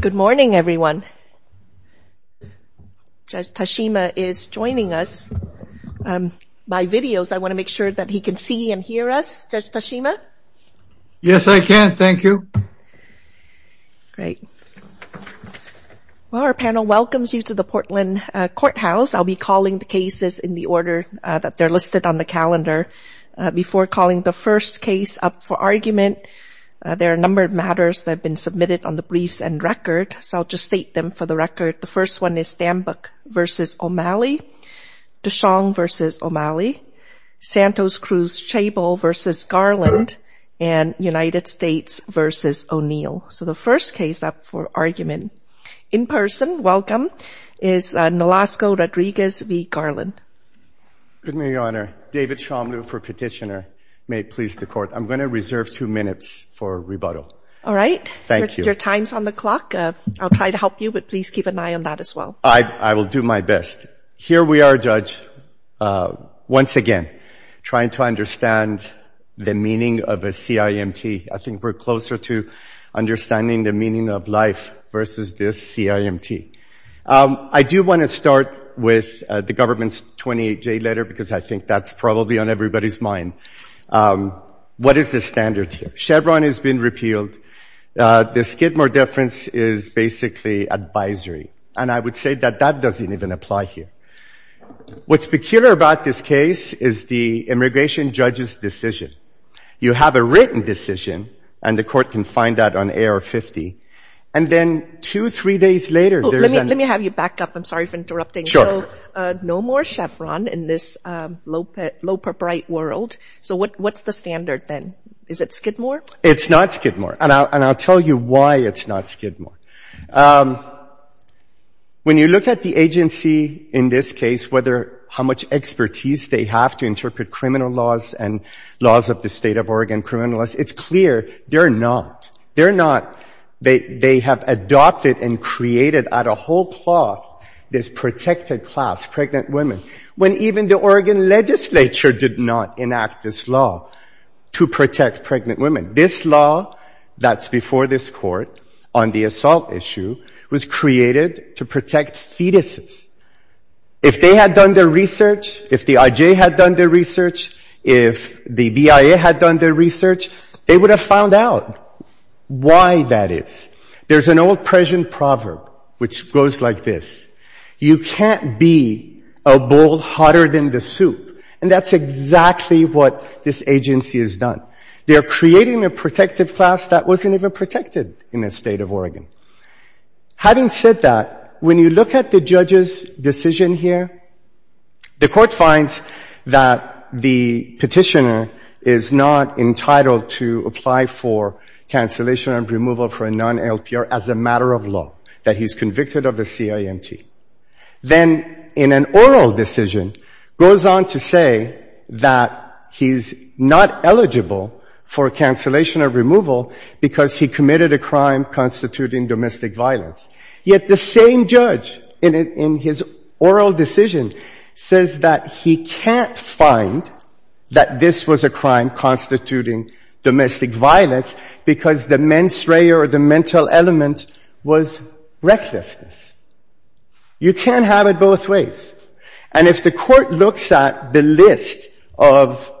Good morning, everyone. Judge Tashima is joining us by videos. I want to make sure that he can see and hear us, Judge Tashima. Yes, I can. Thank you. Great. Well, our panel welcomes you to the Portland Courthouse. I'll be calling the cases in the order that they're listed on the calendar. Before calling the first case up for argument, there are a number of matters that have been submitted on the briefs and record. So I'll just state them for the record. The first one is Stambuck v. O'Malley, DeShong v. O'Malley, Santos Cruz-Chable v. Garland, and United States v. O'Neill. So the first case up for argument in person, welcome, is Nolasco-Rodriguez v. Garland. Good morning, Your Honor. David Shomlu for petitioner. May it please the Court. I'm going to reserve two minutes for rebuttal. All right. Thank you. Your time's on the clock. I'll try to help you, but please keep an eye on that as well. I will do my best. Here we are, Judge, once again, trying to understand the meaning of a CIMT. I think we're closer to understanding the meaning of life versus this CIMT. I do want to start with the government's 28-J letter because I think that's probably on everybody's mind. What is the standard here? Chevron has been repealed. The Skidmore deference is basically advisory. And I would say that that doesn't even apply here. What's peculiar about this case is the immigration judge's decision. You have a written decision, and the Court can find that on AR-50. And then two, three days later, there's an — Let me have you back up. I'm sorry for interrupting. Sure. So no more Chevron in this low-propriet world. So what's the standard then? Is it Skidmore? It's not Skidmore. And I'll tell you why it's not Skidmore. When you look at the agency in this case, how much expertise they have to interpret criminal laws and laws of the State of Oregon criminal laws, it's clear they're not. They're not. They have adopted and created out of whole cloth this protected class, pregnant women, when even the Oregon legislature did not enact this law to protect pregnant women. This law that's before this Court on the assault issue was created to protect fetuses. If they had done their research, if the IJ had done their research, if the BIA had done their research, they would have found out why that is. There's an old Persian proverb which goes like this. You can't be a bull hotter than the soup. And that's exactly what this agency has done. They're creating a protective class that wasn't even protected in the State of Oregon. Having said that, when you look at the judge's decision here, the Court finds that the Petitioner is not entitled to apply for cancellation of removal for a non-LPR as a matter of law, that he's convicted of a CIMT. Then in an oral decision, goes on to say that he's not eligible for cancellation of removal because he committed a crime constituting domestic violence. Yet the same judge in his oral decision says that he can't find that this was a crime constituting domestic violence because the mens rea or the mental element was recklessness. You can't have it both ways. And if the Court looks at the list of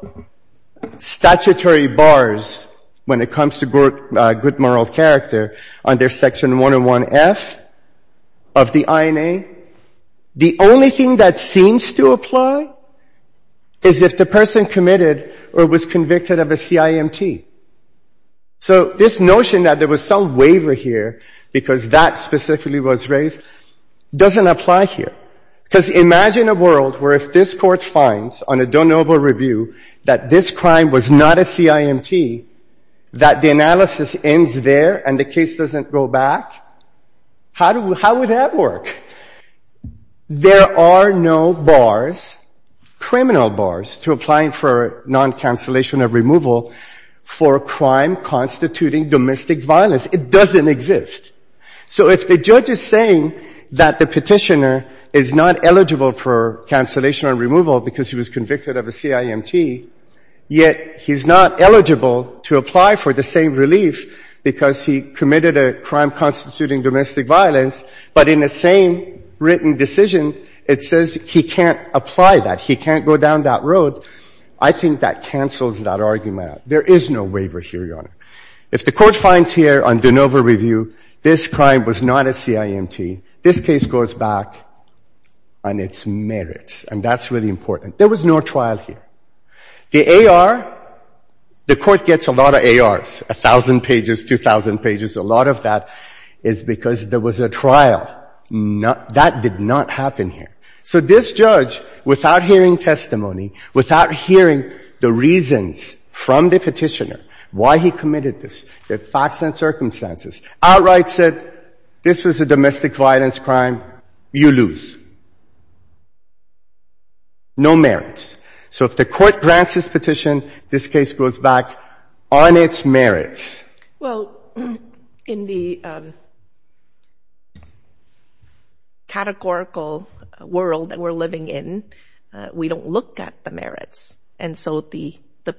statutory bars when it comes to good moral character under Section 101F of the INA, the only thing that seems to apply is if the person committed or was convicted of a CIMT. So this notion that there was some waiver here because that specifically was raised doesn't apply here. Because imagine a world where if this Court finds on a de novo review that this crime was not a CIMT, that the analysis ends there and the case doesn't go back, how would that work? There are no bars, criminal bars, to applying for non-cancellation of removal for a crime constituting domestic violence. It doesn't exist. So if the judge is saying that the Petitioner is not eligible for cancellation or removal because he was convicted of a CIMT, yet he's not eligible to apply for the same relief because he committed a crime constituting domestic violence, but in the same written decision it says he can't apply that, he can't go down that road, I think that cancels that argument out. There is no waiver here, Your Honor. If the Court finds here on de novo review this crime was not a CIMT, this case goes back on its merits, and that's really important. There was no trial here. The AR, the Court gets a lot of ARs, 1,000 pages, 2,000 pages, a lot of that is because there was a trial. That did not happen here. So this judge, without hearing testimony, without hearing the reasons from the Petitioner why he committed this, the facts and circumstances, outright said this was a domestic violence crime, you lose. No merits. So if the Court grants this petition, this case goes back on its merits. Well, in the categorical world that we're living in, we don't look at the merits. And so the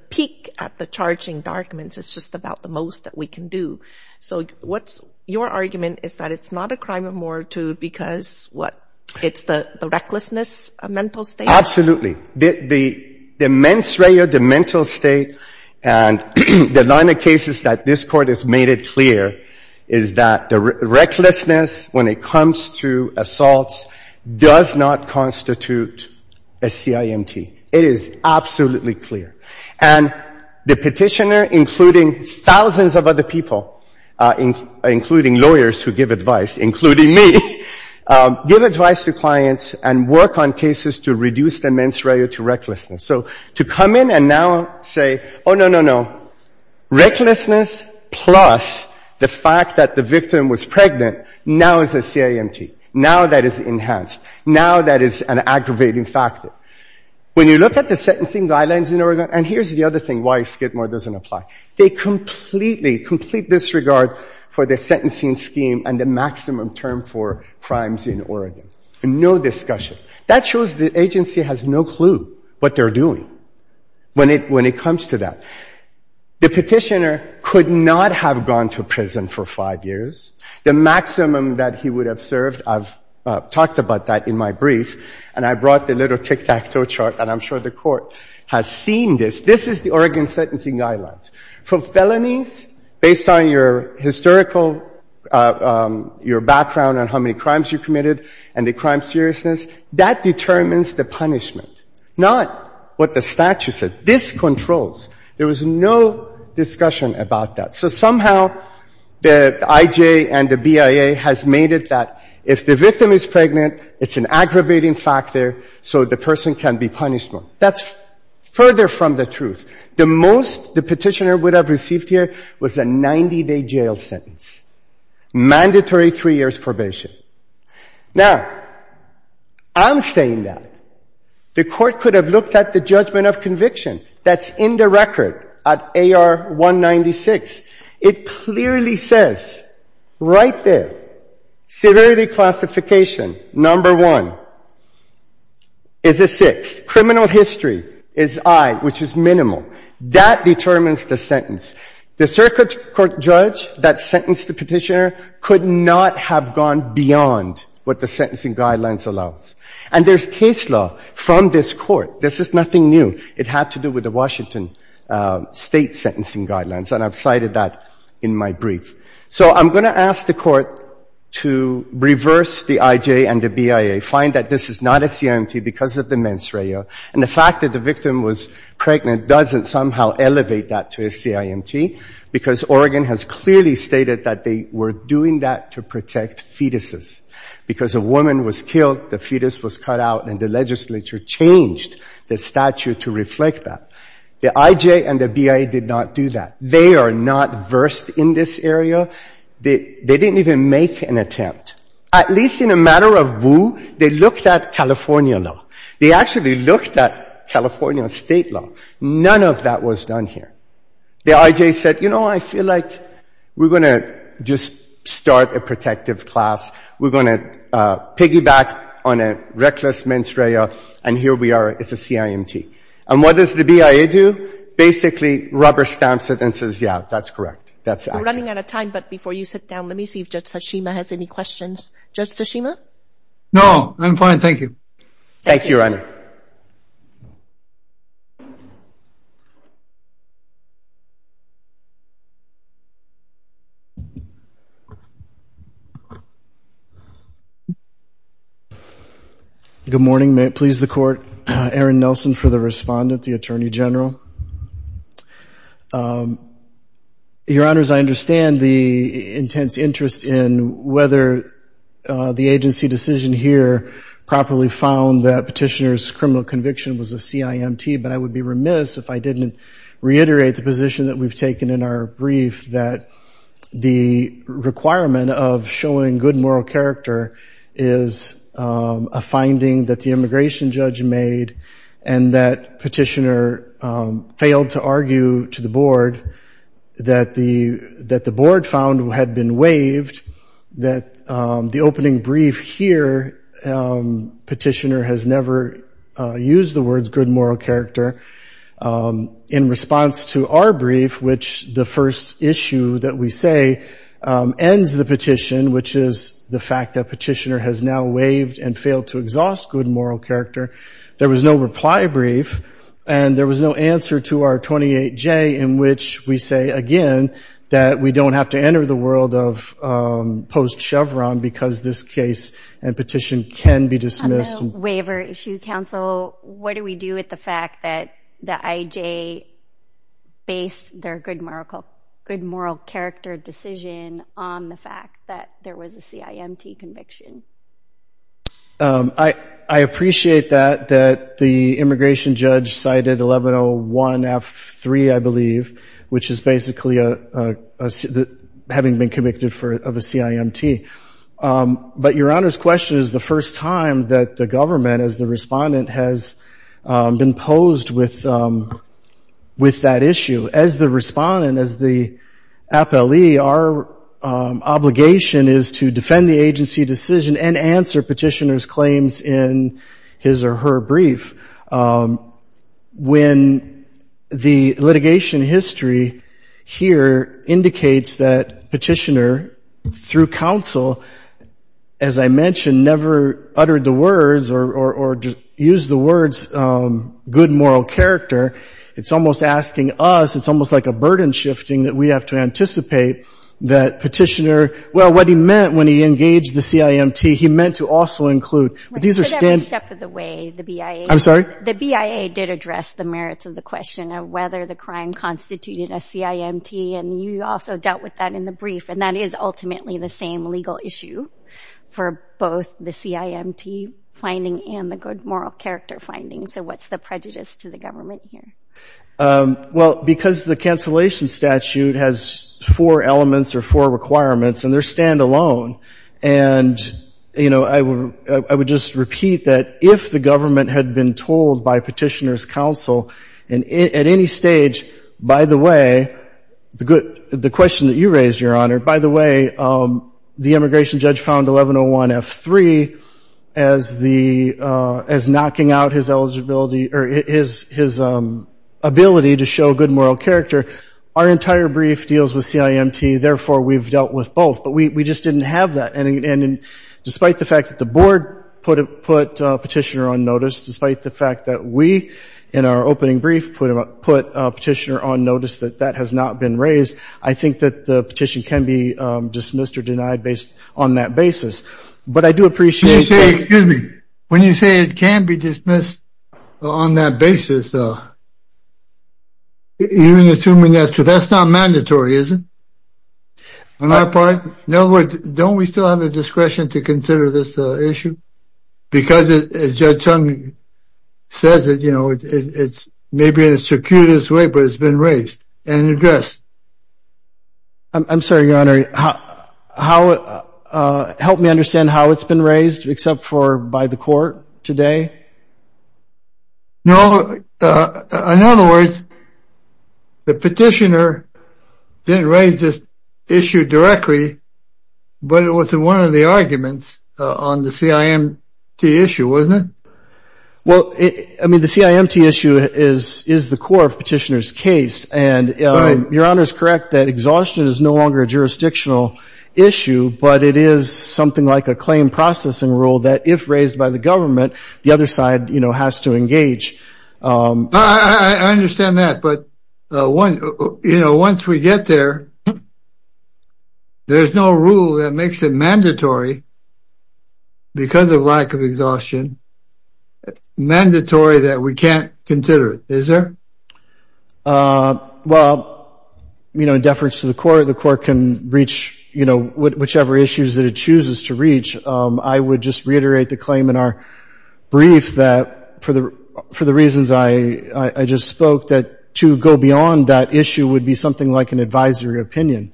peak at the charging documents is just about the most that we can do. So what's your argument is that it's not a crime of moratorium because, what, it's the recklessness, a mental state? Absolutely. The mens rea, the mental state, and the line of cases that this Court has made it clear is that the recklessness when it comes to assaults does not constitute a CIMT. It is absolutely clear. And the Petitioner, including thousands of other people, including lawyers who give advice, including me, give advice to clients and work on cases to reduce the mens rea to recklessness. So to come in and now say, oh, no, no, no, recklessness plus the fact that the victim was pregnant now is a CIMT, now that is enhanced, now that is an aggravating factor. Now, when you look at the sentencing guidelines in Oregon, and here's the other thing why Skidmore doesn't apply, they completely, complete disregard for the sentencing scheme and the maximum term for crimes in Oregon. No discussion. That shows the agency has no clue what they're doing when it comes to that. The Petitioner could not have gone to prison for five years. The maximum that he would have served, I've talked about that in my brief, and I brought the little tic-tac-toe chart, and I'm sure the Court has seen this. This is the Oregon sentencing guidelines. For felonies, based on your historical, your background on how many crimes you committed and the crime seriousness, that determines the punishment, not what the statute says. This controls. There was no discussion about that. So somehow the IJ and the BIA has made it that if the victim is pregnant, it's an aggravating factor, so the person can be punished more. That's further from the truth. The most the Petitioner would have received here was a 90-day jail sentence, mandatory three years probation. Now, I'm saying that the Court could have looked at the judgment of conviction that's in the record at AR 196. It clearly says right there, severity classification, number one, is a six. Criminal history is I, which is minimal. That determines the sentence. The circuit court judge that sentenced the Petitioner could not have gone beyond what the sentencing guidelines allows. And there's case law from this Court. This is nothing new. It had to do with the Washington State sentencing guidelines, and I've cited that in my brief. So I'm going to ask the Court to reverse the IJ and the BIA, find that this is not a CIMT because of the mens rea, and the fact that the victim was pregnant doesn't somehow elevate that to a CIMT, because Oregon has clearly stated that they were doing that to protect fetuses. Because a woman was killed, the fetus was cut out, and the legislature changed the statute to reflect that. The IJ and the BIA did not do that. They are not versed in this area. They didn't even make an attempt. At least in a matter of woo, they looked at California law. They actually looked at California state law. None of that was done here. The IJ said, you know, I feel like we're going to just start a protective class. We're going to piggyback on a reckless mens rea, and here we are. It's a CIMT. And what does the BIA do? Basically rubber stamps it and says, yeah, that's correct. That's accurate. We're running out of time, but before you sit down, let me see if Judge Tashima has any questions. Judge Tashima? No, I'm fine. Thank you. Thank you, Your Honor. Good morning. May it please the Court. Aaron Nelson for the respondent, the Attorney General. Your Honors, I understand the intense interest in whether the agency decision here properly found that Petitioner's claim to the Supreme Court was a CIMT, but I would be remiss if I didn't reiterate the position that we've taken in our brief that the requirement of showing good moral character is a finding that the immigration judge made and that Petitioner failed to argue to the Board that the Board found had been waived, that the opening brief here, that Petitioner has never used the words good moral character in response to our brief, which the first issue that we say ends the petition, which is the fact that Petitioner has now waived and failed to exhaust good moral character. There was no reply brief, and there was no answer to our 28J in which we say, again, that we don't have to enter the world of post-Chevron because this case and petition can be dismissed. On the waiver issue, Counsel, what do we do with the fact that the IJ based their good moral character decision on the fact that there was a CIMT conviction? I appreciate that, that the immigration judge cited 1101F3, I believe, which is basically having been convicted of a CIMT. But Your Honor's question is the first time that the government as the respondent has been posed with that issue. As the respondent, as the appellee, our obligation is to defend the agency decision and answer Petitioner's claims in his or her brief. When the litigation history here indicates that Petitioner, through Counsel, as I mentioned, never uttered the words or used the words good moral character, it's almost asking us, it's almost like a burden shifting that we have to anticipate that Petitioner, well, what he meant when he engaged the CIMT, he meant to also include. But these are standard steps of the way the BIA. I'm sorry? The BIA did address the merits of the question of whether the crime constituted a CIMT, and you also dealt with that in the brief, and that is ultimately the same legal issue for both the CIMT finding and the good moral character finding. So what's the prejudice to the government here? Well, because the cancellation statute has four elements or four requirements, and they're standalone. And, you know, I would just repeat that if the government had been told by Petitioner's Counsel, and at any stage, by the way, the question that you raised, Your Honor, by the way, the immigration judge found 1101F3 as knocking out his eligibility or his ability to show good moral character. Our entire brief deals with CIMT, therefore we've dealt with both. But we just didn't have that. And despite the fact that the Board put Petitioner on notice, despite the fact that we, in our opening brief, put Petitioner on notice that that has not been raised, I think that the petition can be dismissed or denied based on that basis. But I do appreciate that. When you say it can be dismissed on that basis, even assuming that's true, that's not mandatory, is it? On our part? In other words, don't we still have the discretion to consider this issue? Because as Judge Chung says, you know, it's maybe in the circuitous way, but it's been raised and addressed. I'm sorry, Your Honor. Help me understand how it's been raised except for by the court today? No. In other words, the Petitioner didn't raise this issue directly, but it was one of the arguments on the CIMT issue, wasn't it? Well, I mean, the CIMT issue is the core of Petitioner's case. And Your Honor is correct that exhaustion is no longer a jurisdictional issue, but it is something like a claim processing rule that if raised by the government, the other side has to engage. I understand that. But once we get there, there's no rule that makes it mandatory because of lack of exhaustion, mandatory that we can't consider it, is there? Well, you know, in deference to the court, the court can reach, you know, whichever issues that it chooses to reach. I would just reiterate the claim in our brief that for the reasons I just spoke, that to go beyond that issue would be something like an advisory opinion.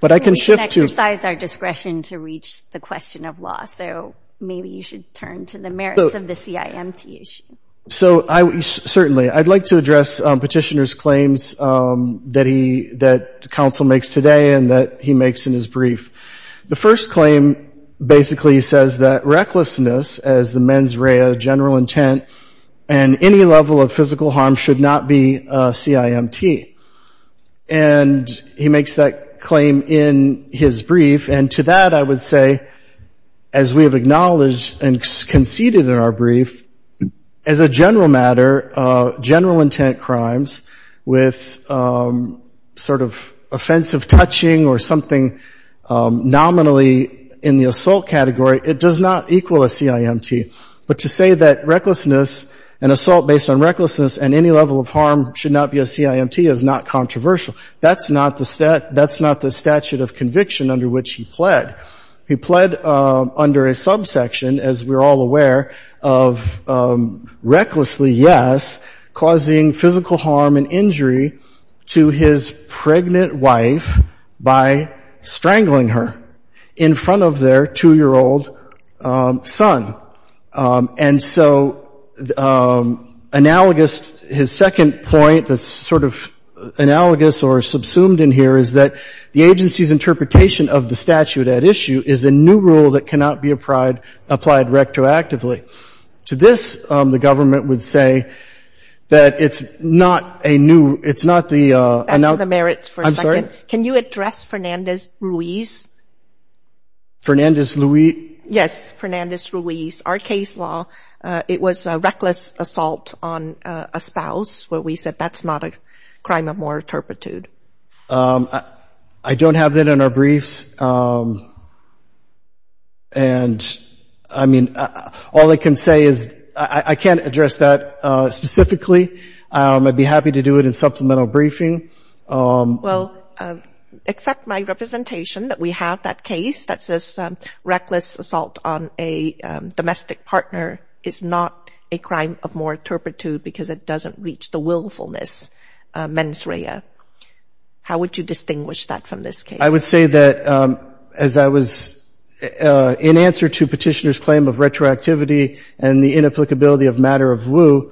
But I can shift to – We should exercise our discretion to reach the question of law, so maybe you should turn to the merits of the CIMT issue. Certainly. I'd like to address Petitioner's claims that counsel makes today and that he makes in his brief. The first claim basically says that recklessness as the mens rea, general intent, and any level of physical harm should not be CIMT. And he makes that claim in his brief. And to that I would say, as we have acknowledged and conceded in our brief, as a general matter, general intent crimes with sort of offensive touching or something nominally in the assault category, it does not equal a CIMT. But to say that recklessness, an assault based on recklessness, and any level of harm should not be a CIMT is not controversial. That's not the statute of conviction under which he pled. He pled under a subsection, as we're all aware, of recklessly, yes, causing physical harm and injury to his pregnant wife by strangling her in front of their 2-year-old son. And so analogous, his second point that's sort of analogous or subsumed in here is that the agency's interpretation of the statute at issue is a new rule that cannot be applied rectoactively. To this, the government would say that it's not a new — it's not the — That's on the merits for a second. I'm sorry? Can you address Fernandez-Ruiz? Fernandez-Luiz? Yes, Fernandez-Ruiz. Our case law, it was a reckless assault on a spouse where we said that's not a crime of more turpitude. I don't have that in our briefs. And, I mean, all I can say is I can't address that specifically. I'd be happy to do it in supplemental briefing. Well, accept my representation that we have that case that says reckless assault on a domestic partner is not a crime of more turpitude because it doesn't reach the willfulness mens rea. How would you distinguish that from this case? I would say that as I was in answer to Petitioner's claim of retroactivity and the inapplicability of matter of woe,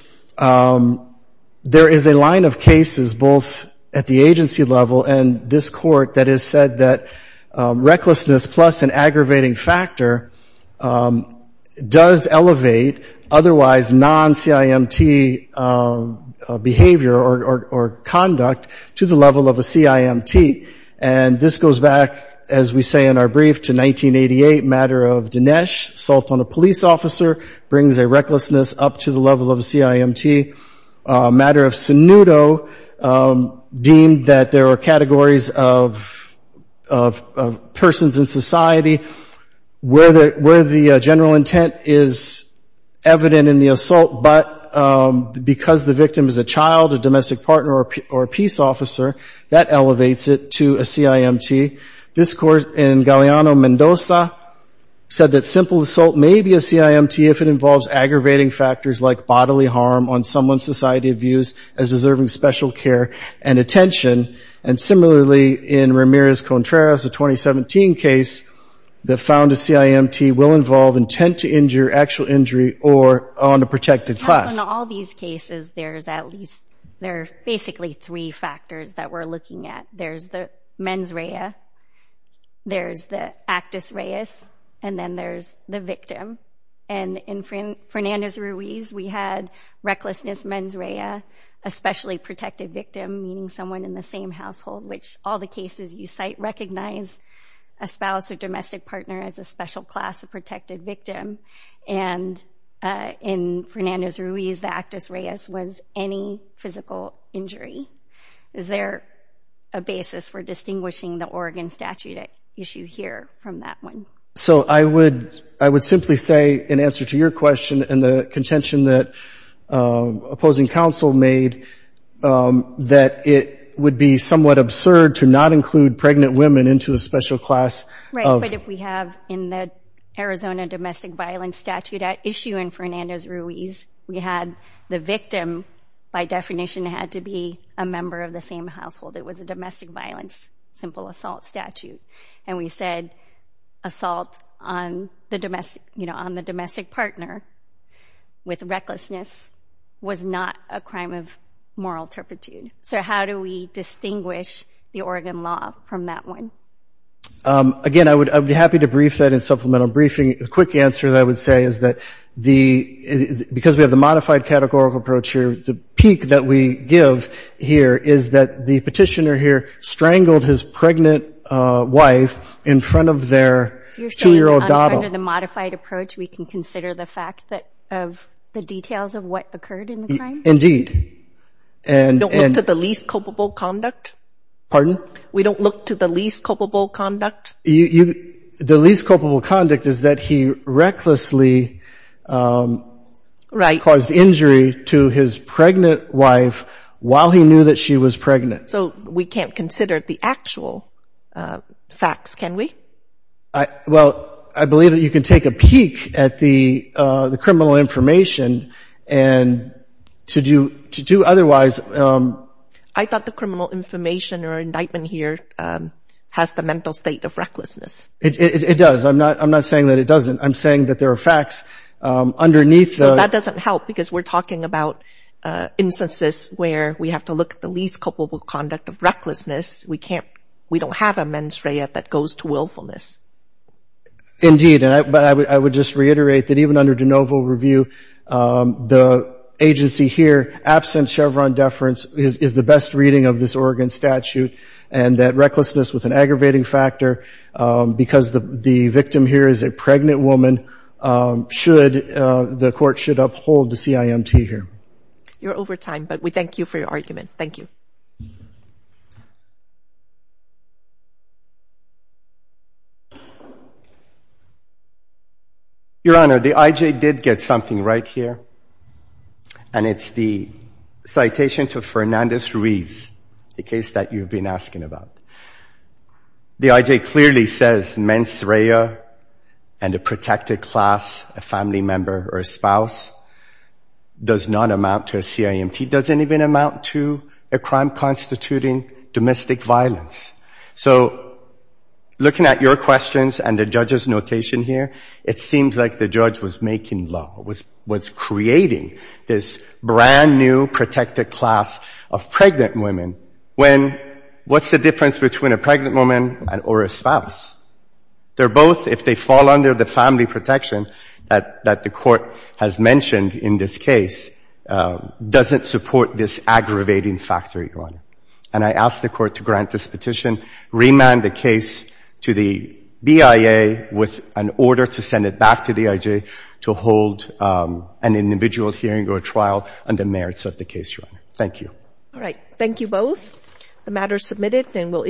there is a line of cases both at the agency level and this Court that has said that recklessness plus an aggravating factor does elevate otherwise non-CIMT behavior or conduct to the level of a CIMT. And this goes back, as we say in our brief, to 1988 matter of Dinesh. Assault on a police officer brings a recklessness up to the level of a CIMT. Matter of Sinudo deemed that there are categories of persons in society where the general intent is evident in the assault, but because the victim is a child, a domestic partner, or a peace officer, that elevates it to a CIMT. This Court in Galeano-Mendoza said that simple assault may be a CIMT if it involves aggravating factors like bodily harm on someone's society views as deserving special care and attention. And similarly, in Ramirez-Contreras, a 2017 case that found a CIMT will involve intent to injure, actual injury, or on a protected class. In all these cases, there are basically three factors that we're looking at. There's the mens rea, there's the actus reus, and then there's the victim. And in Fernandez-Ruiz, we had recklessness mens rea, especially protected victim, meaning someone in the same household, which all the cases you cite recognize a spouse or domestic partner as a special class of protected victim. And in Fernandez-Ruiz, the actus reus was any physical injury. Is there a basis for distinguishing the Oregon statute issue here from that one? So I would simply say, in answer to your question and the contention that opposing counsel made, that it would be somewhat absurd to not include pregnant women into a special class. Right, but if we have in the Arizona domestic violence statute at issue in Fernandez-Ruiz, we had the victim, by definition, had to be a member of the same household. It was a domestic violence simple assault statute. And we said assault on the domestic partner with recklessness was not a crime of moral turpitude. So how do we distinguish the Oregon law from that one? Again, I would be happy to brief that in supplemental briefing. The quick answer that I would say is that because we have the modified categorical approach here, the peak that we give here is that the petitioner here strangled his pregnant wife in front of their 2-year-old daughter. You're saying under the modified approach we can consider the fact of the details of what occurred in the crime? Indeed. We don't look to the least culpable conduct? Pardon? We don't look to the least culpable conduct? The least culpable conduct is that he recklessly caused injury to his pregnant wife while he knew that she was pregnant. So we can't consider the actual facts, can we? Well, I believe that you can take a peek at the criminal information and to do otherwise. I thought the criminal information or indictment here has the mental state of recklessness. It does. I'm not saying that it doesn't. I'm saying that there are facts underneath. That doesn't help because we're talking about instances where we have to look at the least culpable conduct of recklessness. We don't have a mens rea that goes to willfulness. Indeed. But I would just reiterate that even under de novo review, the agency here, absent Chevron deference, is the best reading of this Oregon statute and that recklessness with an aggravating factor, because the victim here is a pregnant woman, the court should uphold the CIMT here. You're over time, but we thank you for your argument. Thank you. Your Honor, the I.J. did get something right here, and it's the citation to Fernandez-Ruiz, the case that you've been asking about. The I.J. clearly says mens rea and a protected class, a family member or a spouse, does not amount to a CIMT. It doesn't even amount to a crime constituting domestic violence. So looking at your questions and the judge's notation here, it seems like the judge was making law, was creating this brand-new protected class of pregnant women when what's the difference between a pregnant woman or a spouse? They're both, if they fall under the family protection that the court has mentioned in this case, doesn't support this aggravating factor, Your Honor. And I ask the court to grant this petition, remand the case to the BIA with an order to send it back to the I.J. to hold an individual hearing or trial on the merits of the case, Your Honor. Thank you. All right. Thank you both. The matter is submitted, and we'll end here.